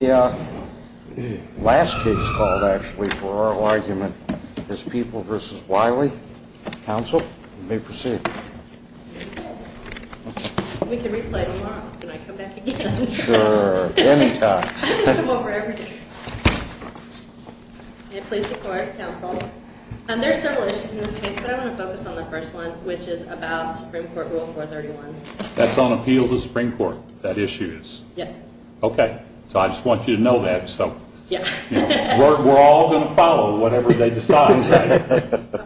The last case called, actually, for our argument is People v. Wiley. Council, you may proceed. We can replay it tomorrow when I come back again. Sure. Anytime. I just come over every day. May it please the Court, Council. Now, there are several issues in this case, but I want to focus on the first one, which is about Supreme Court Rule 431. That's on appeal to the Supreme Court, that issue is? Yes. Okay. So I just want you to know that. We're all going to follow whatever they decide, right?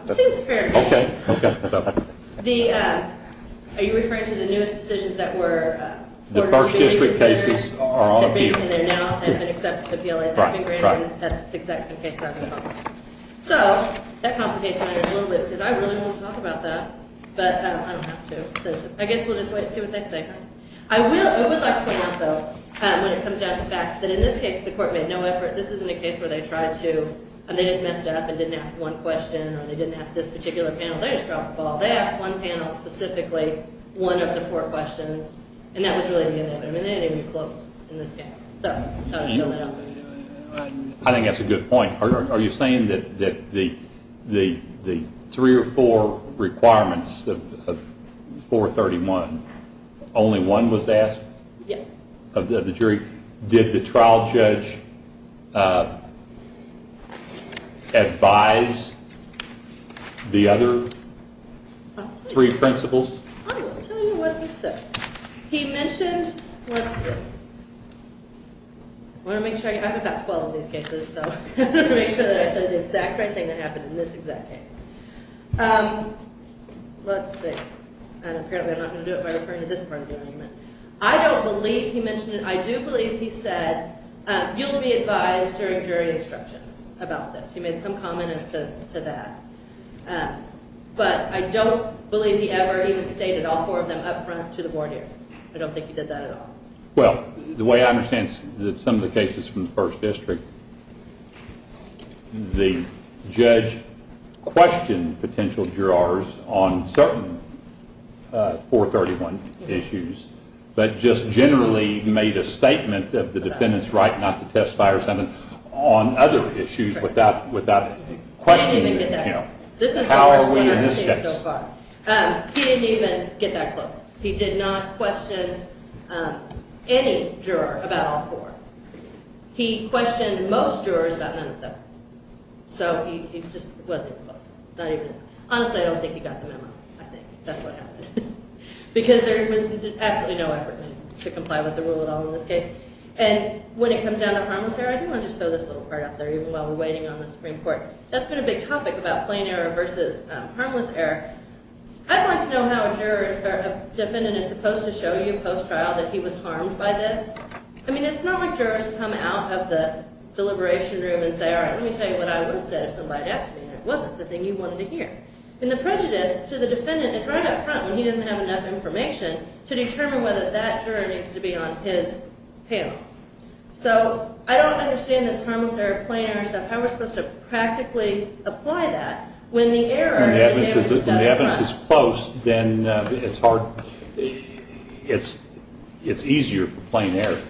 It seems fair to me. Are you referring to the newest decisions that were? The first district cases are on appeal. That have been from there now and have been accepted to the PLA. Right. And that's the exact same case that I'm going to talk about. So, that complicates matters a little bit because I really want to talk about that, but I don't have to. I guess we'll just wait and see what they say. I would like to point out, though, when it comes down to facts, that in this case, the Court made no effort. This isn't a case where they tried to, and they just messed up and didn't ask one question, or they didn't ask this particular panel. They just dropped the ball. They asked one panel specifically one of the four questions, and that was really the end of it. I mean, they didn't even get close in this case. So, I don't know. I think that's a good point. Are you saying that the three or four requirements of 431, only one was asked? Yes. Of the jury? Did the trial judge advise the other three principles? I will tell you what he said. He mentioned, let's see. I want to make sure. I have about 12 of these cases, so I want to make sure that I tell you the exact right thing that happened in this exact case. Let's see. Apparently, I'm not going to do it by referring to this part of the argument. I don't believe he mentioned it. I do believe he said, you'll be advised during jury instructions about this. He made some comment as to that. But I don't believe he ever even stated all four of them up front to the board here. I don't think he did that at all. Well, the way I understand some of the cases from the first district, the judge questioned potential jurors on certain 431 issues, but just generally made a statement of the defendant's right not to testify or something on other issues without questioning the panel. How are we in this case? He didn't even get that close. He did not question any juror about all four. He questioned most jurors about none of them. So he just wasn't close. Honestly, I don't think he got the memo, I think. That's what happened. Because there was absolutely no effort made to comply with the rule at all in this case. And when it comes down to harmless error, I do want to just throw this little part out there, even while we're waiting on the Supreme Court. That's been a big topic about plain error versus harmless error. I'd like to know how a defendant is supposed to show you post-trial that he was harmed by this. I mean, it's not like jurors come out of the deliberation room and say, all right, let me tell you what I would have said if somebody had asked me, and it wasn't the thing you wanted to hear. And the prejudice to the defendant is right up front when he doesn't have enough information to determine whether that juror needs to be on his panel. So I don't understand this harmless error, plain error stuff, how we're supposed to practically apply that when the error is done up front. When the evidence is close, then it's easier for plain error.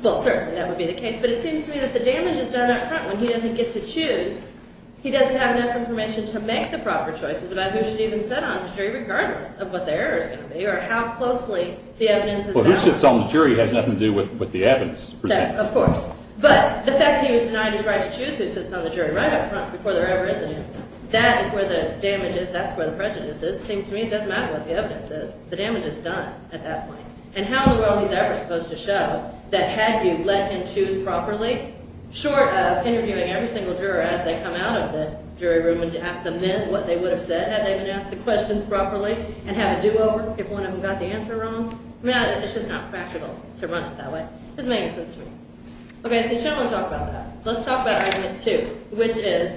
Well, certainly that would be the case. But it seems to me that the damage is done up front when he doesn't get to choose. He doesn't have enough information to make the proper choices about who should even sit on the jury, regardless of what the error is going to be or how closely the evidence is balanced. Well, who sits on the jury has nothing to do with the evidence presented. Of course. But the fact that he was denied his right to choose who sits on the jury right up front before there ever is an evidence, that is where the damage is. That's where the prejudice is. It seems to me it doesn't matter what the evidence is. The damage is done at that point. And how in the world is that supposed to show that had you let him choose properly, short of interviewing every single juror as they come out of the jury room and ask them then what they would have said had they been asked the questions properly and had a do-over if one of them got the answer wrong? I mean, it's just not practical to run it that way. It doesn't make sense to me. Okay, so I'm going to talk about that. Let's talk about Argument 2, which is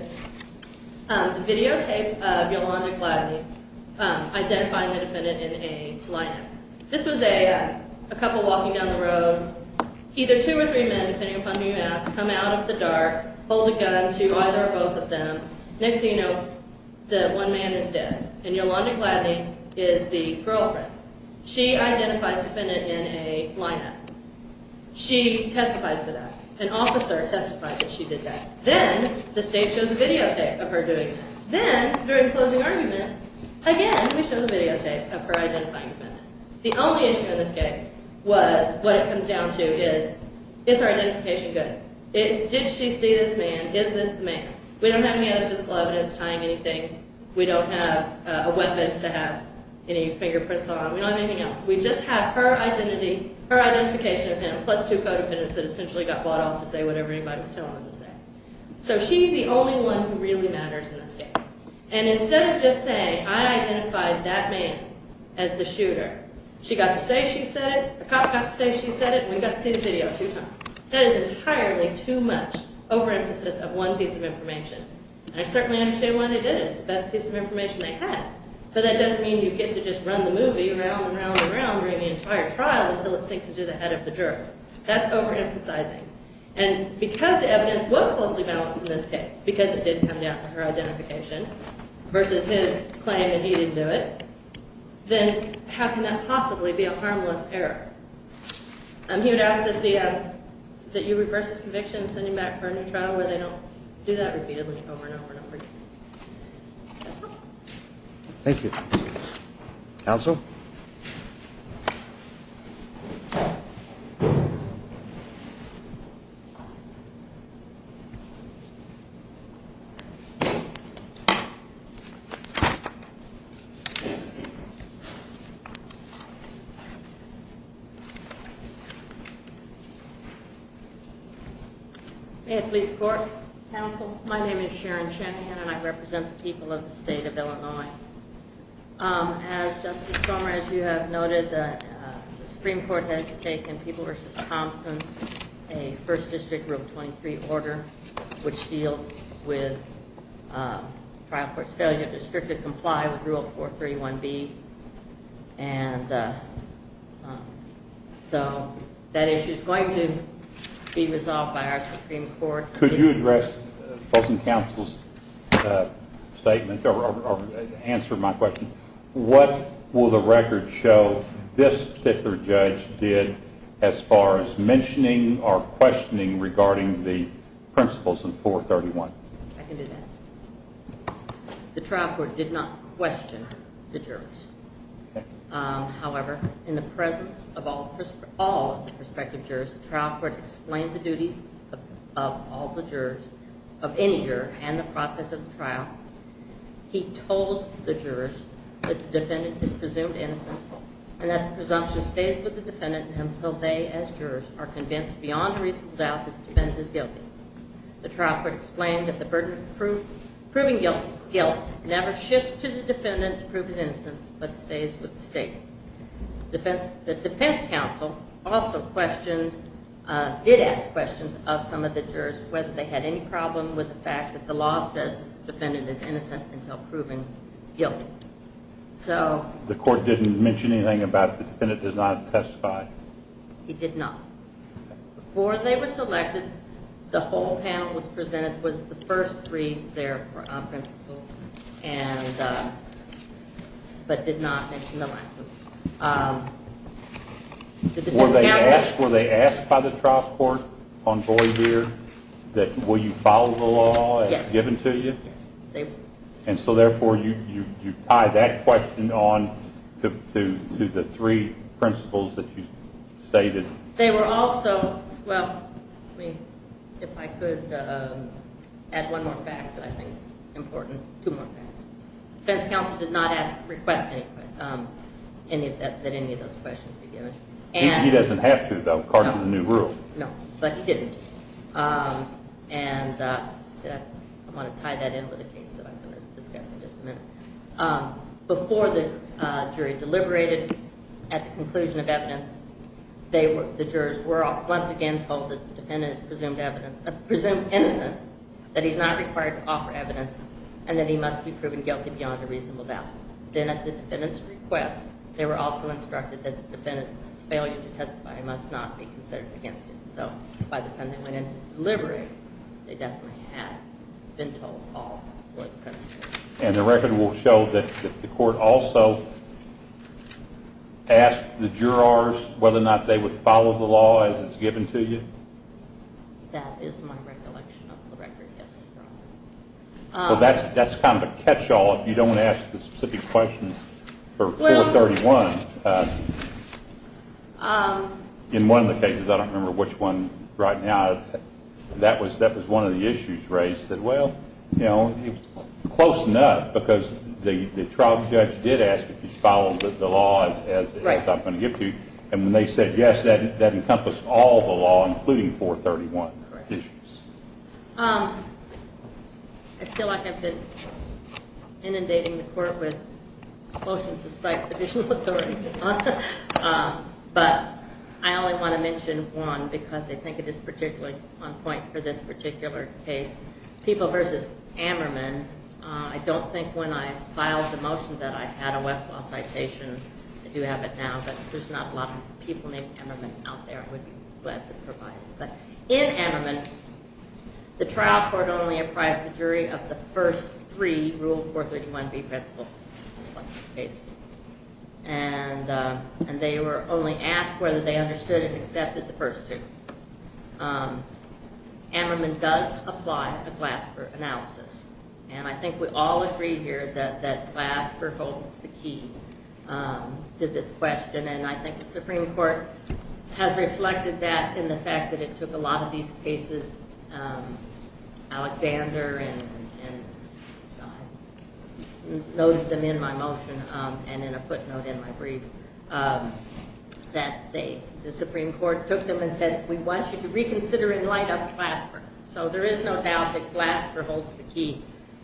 the videotape of Yolanda Gladney identifying the defendant in a lineup. This was a couple walking down the road, either two or three men, depending upon who you ask, come out of the dark, hold a gun to either or both of them. Next thing you know, the one man is dead, and Yolanda Gladney is the girlfriend. She identifies the defendant in a lineup. She testifies to that. An officer testified that she did that. Then the state shows a videotape of her doing that. Then during closing argument, again, we show the videotape of her identifying the defendant. The only issue in this case was what it comes down to is, is her identification good? Did she see this man? Is this the man? We don't have any other physical evidence tying anything. We don't have a weapon to have any fingerprints on. We don't have anything else. We just have her identity, her identification of him, plus two co-defendants that essentially got bought off to say whatever anybody was telling them to say. So she's the only one who really matters in this case. And instead of just saying, I identified that man as the shooter, she got to say she said it, the cop got to say she said it, and we got to see the video two times. That is entirely too much overemphasis of one piece of information. And I certainly understand why they did it. It's the best piece of information they had. But that doesn't mean you get to just run the movie around and around and around during the entire trial until it sinks into the head of the jurors. That's overemphasizing. And because the evidence was closely balanced in this case, because it did come down to her identification versus his claim that he didn't do it, then how can that possibly be a harmless error? He would ask that you reverse his conviction and send him back for a new trial where they don't do that repeatedly over and over and over again. That's all. Thank you. Counsel? May I please report, counsel? My name is Sharon Shanahan, and I represent the people of the state of Illinois. As Justice Stormer, as you have noted, the Supreme Court has taken People v. Thompson, a First District Rule 23 order, which deals with trial court's failure to strictly comply with Rule 431B and so that issue is going to be resolved by our Supreme Court. Could you address both the counsel's statement or answer my question? What will the record show this particular judge did as far as mentioning or questioning regarding the principles of 431? I can do that. The trial court did not question the jurors. However, in the presence of all prospective jurors, the trial court explained the duties of all the jurors, of any juror, and the process of the trial. He told the jurors that the defendant is presumed innocent and that the presumption stays with the defendant until they, as jurors, are convinced beyond reasonable doubt that the defendant is guilty. The trial court explained that the burden of proving guilt never shifts to the defendant to prove his innocence, but stays with the state. The defense counsel also did ask questions of some of the jurors whether they had any problem with the fact that the law says the defendant is innocent until proven guilty. The court didn't mention anything about the defendant does not testify? It did not. Before they were selected, the whole panel was presented with the first three principles, but did not mention the last one. Were they asked by the trial court on Boyd here that will you follow the law as given to you? Yes. And so therefore you tie that question on to the three principles that you stated. They were also, well, if I could add one more fact that I think is important, two more facts. The defense counsel did not request that any of those questions be given. He doesn't have to, though, according to the new rule. No, but he didn't. And I want to tie that in with a case that I'm going to discuss in just a minute. Before the jury deliberated at the conclusion of evidence, the jurors were once again told that the defendant is presumed innocent, that he's not required to offer evidence, and that he must be proven guilty beyond a reasonable doubt. Then at the defendant's request, they were also instructed that the defendant's failure to testify must not be considered against him. So by the time they went into deliberating, they definitely had been told all the principles. And the record will show that the court also asked the jurors whether or not they would follow the law as it's given to you? That is my recollection of the record, yes, Your Honor. Well, that's kind of a catch-all. If you don't want to ask the specific questions for 431, in one of the cases, I don't remember which one right now, that was one of the issues raised. And they said, well, you know, close enough, because the trial judge did ask if you'd follow the law as I'm going to give to you. And when they said yes, that encompassed all the law, including 431. I feel like I've been inundating the court with motions to cite judicial authority, Your Honor. But I only want to mention one because I think it is particularly one point for this particular case, People v. Ammerman. I don't think when I filed the motion that I had a Westlaw citation. I do have it now, but there's not a lot of people named Ammerman out there. I would be glad to provide it. But in Ammerman, the trial court only apprised the jury of the first three Rule 431B principles, just like this case. And they were only asked whether they understood and accepted the first two. Ammerman does apply a Glasper analysis. And I think we all agree here that Glasper holds the key to this question. And I think the Supreme Court has reflected that in the fact that it took a lot of these cases, Alexander noted them in my motion and in a footnote in my brief, that the Supreme Court took them and said, we want you to reconsider and light up Glasper. So there is no doubt that Glasper holds the key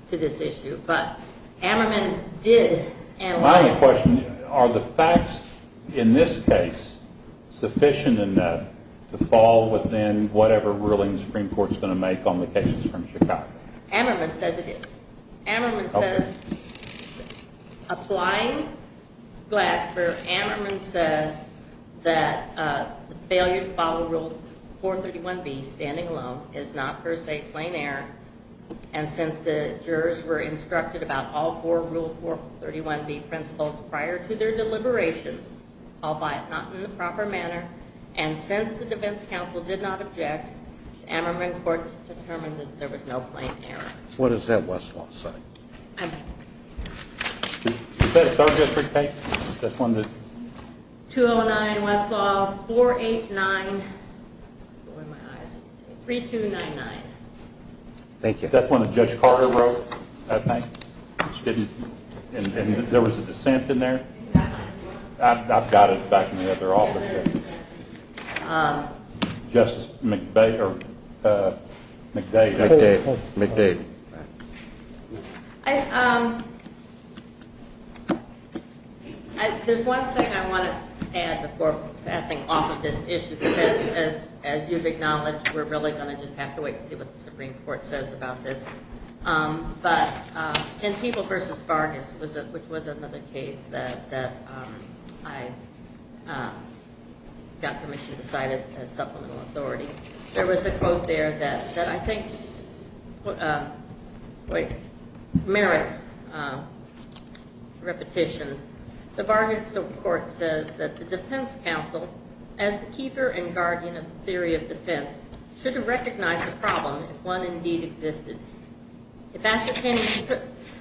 to this issue. But Ammerman did analyze them. My only question, are the facts in this case sufficient enough to fall within whatever ruling the Supreme Court is going to make on the cases from Chicago? Ammerman says it is. Ammerman says, applying Glasper, Ammerman says that failure to follow Rule 431B, standing alone, is not per se plain error. And since the jurors were instructed about all four Rule 431B principles prior to their deliberations, albeit not in the proper manner, and since the defense counsel did not object, Ammerman court has determined that there was no plain error. What does that Westlaw say? I'm back. Is that a 3rd District case? 209 Westlaw, 489, 3299. Thank you. Is that one that Judge Carter wrote that night? And there was a dissent in there? I've got it back in the other office. Justice McDavid. There's one thing I want to add before passing off of this issue. As you've acknowledged, we're really going to just have to wait and see what the Supreme Court says about this. In People v. Vargas, which was another case that I got permission to cite as supplemental authority, there was a quote there that I think merits repetition. The Vargas court says that the defense counsel, as the keeper and guardian of the theory of defense, should have recognized the problem if one indeed existed. If ascertaining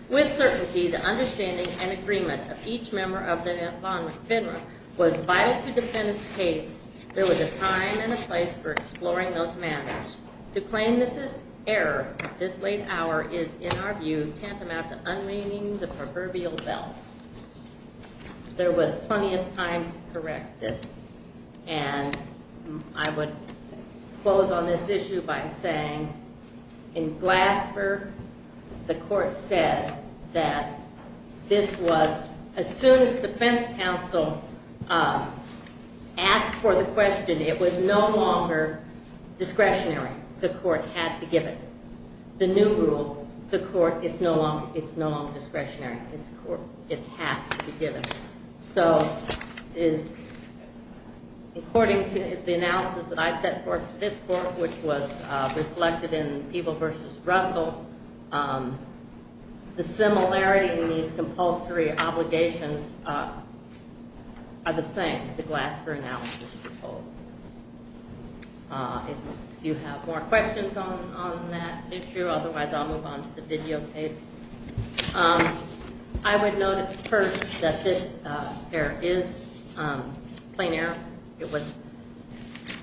with certainty the understanding and agreement of each member of the law and federal, was vital to the defendant's case, there was a time and a place for exploring those matters. To claim this is error at this late hour is, in our view, tantamount to unmeaning the proverbial bell. There was plenty of time to correct this. I would close on this issue by saying, in Glasper, the court said that this was, as soon as the defense counsel asked for the question, it was no longer discretionary. The court had to give it. The new rule, the court, it's no longer discretionary. It has to be given. So, according to the analysis that I set forth in this court, which was reflected in Peeble v. Russell, the similarity in these compulsory obligations are the same that the Glasper analysis foretold. If you have more questions on that issue, otherwise I'll move on to the videotapes. I would note first that this error is plain error. It was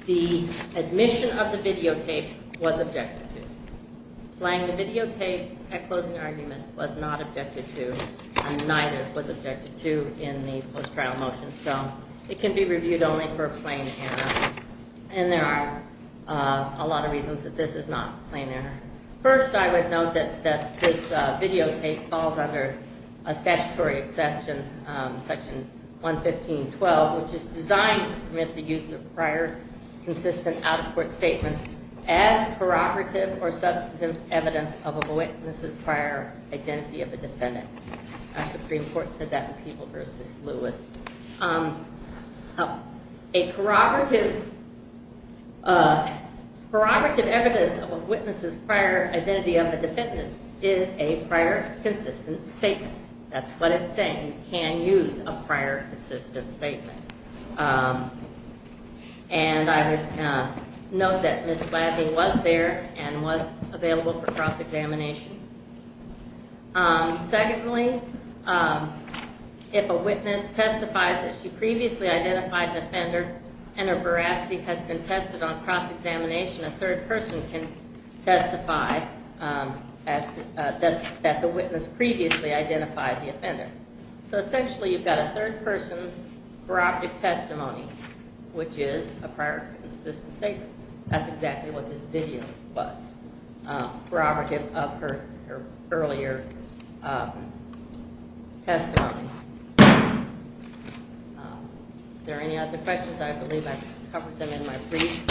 the admission of the videotapes was objected to. Playing the videotapes at closing argument was not objected to and neither was objected to in the post-trial motion. So, it can be reviewed only for plain error. And there are a lot of reasons that this is not plain error. First, I would note that this videotape falls under a statutory exception, Section 115.12, which is designed to permit the use of prior consistent out-of-court statements as corroborative or substantive evidence of a witness's prior identity of a defendant. Our Supreme Court said that in Peeble v. Lewis. A corroborative evidence of a witness's prior identity of a defendant is a prior consistent statement. That's what it's saying, you can use a prior consistent statement. And I would note that Ms. Gladney was there and was available for cross-examination. Secondly, if a witness testifies that she previously identified the offender and her veracity has been tested on cross-examination, a third person can testify that the witness previously identified the offender. So, essentially, you've got a third person's prerogative testimony, which is a prior consistent statement. That's exactly what this video was, corroborative of her earlier testimony. Are there any other questions? I believe I covered them in my brief.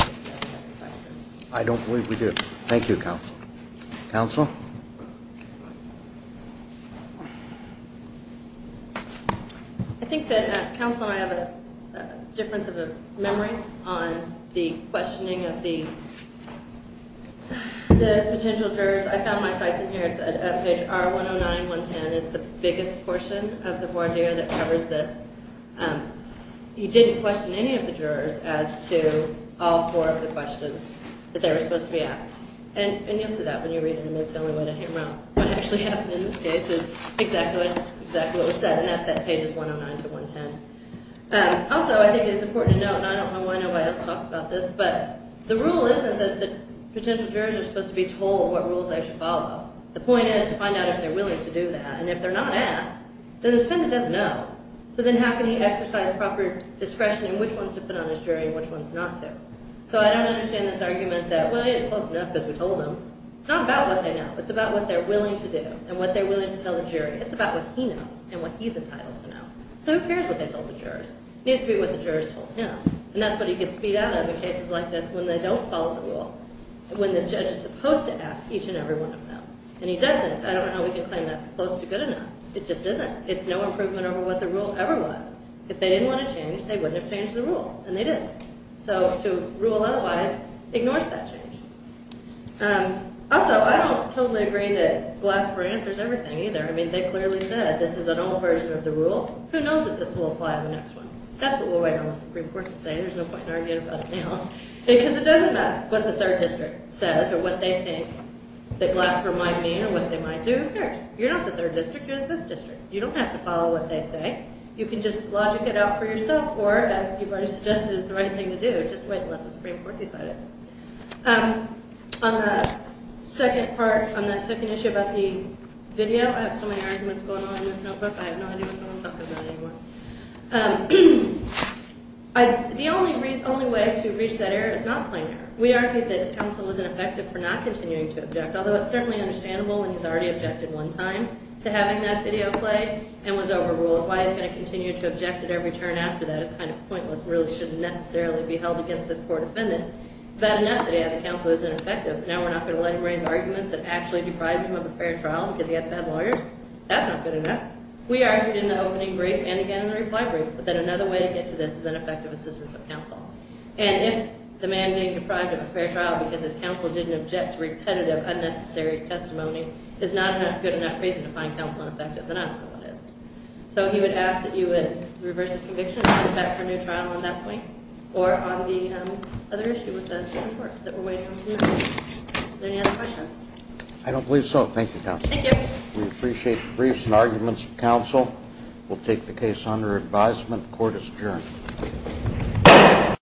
I don't believe we do. Thank you, Counsel. Counsel? I think that Counsel and I have a difference of memory on the questioning of the potential jurors. I found my sites in here. It's at FHR 109-110. It's the biggest portion of the voir dire that covers this. You didn't question any of the jurors as to all four of the questions that they were supposed to be asked. And you'll see that when you read it. It's the only way to hammer out what actually happened in this case. It's exactly what was said, and that's at pages 109-110. Also, I think it's important to note, and I don't know why nobody else talks about this, but the rule isn't that the potential jurors are supposed to be told what rules they should follow. The point is to find out if they're willing to do that. And if they're not asked, then the defendant doesn't know. So then how can he exercise proper discretion in which ones to put on his jury and which ones not to? So I don't understand this argument that, well, he's close enough because we told him. It's not about what they know. It's about what they're willing to do and what they're willing to tell the jury. It's about what he knows and what he's entitled to know. So who cares what they told the jurors? It needs to be what the jurors told him. And that's what he gets beat out of in cases like this when they don't follow the rule, when the judge is supposed to ask each and every one of them. And he doesn't. I don't know how we can claim that's close to good enough. It just isn't. It's no improvement over what the rule ever was. If they didn't want to change, they wouldn't have changed the rule, and they didn't. So to rule otherwise ignores that change. Also, I don't totally agree that Glasper answers everything either. I mean, they clearly said this is an old version of the rule. Who knows if this will apply in the next one? That's what we'll wait on the Supreme Court to say. There's no point in arguing about it now. Because it doesn't matter what the 3rd District says or what they think that Glasper might mean or what they might do. Who cares? You're not the 3rd District. You're the 5th District. You don't have to follow what they say. You can just logic it out for yourself or, as you've already suggested, it's the right thing to do. Just wait and let the Supreme Court decide it. On the second part, on the second issue about the video, I have so many arguments going on in this notebook. I have no idea what I'm talking about anymore. The only way to reach that error is not plain error. We argue that counsel was ineffective for not continuing to object, although it's certainly understandable when he's already objected one time to having that video play and was overruled. Why he's going to continue to object at every turn after that is kind of pointless and really shouldn't necessarily be held against this poor defendant. But enough that he has a counsel who's ineffective. Now we're not going to let him raise arguments that actually deprived him of a fair trial because he had bad lawyers. That's not good enough. We argued in the opening brief and again in the reply brief. But then another way to get to this is an effective assistance of counsel. And if the man being deprived of a fair trial because his counsel didn't object to repetitive, unnecessary testimony is not a good enough reason to find counsel ineffective, then I don't know what is. So he would ask that you would reverse his conviction and send him back for a new trial on that point or on the other issue with the Supreme Court that we're waiting on tonight. Any other questions? I don't believe so. Thank you, counsel. Thank you. We appreciate the briefs and arguments of counsel. We'll take the case under advisement. Court is adjourned.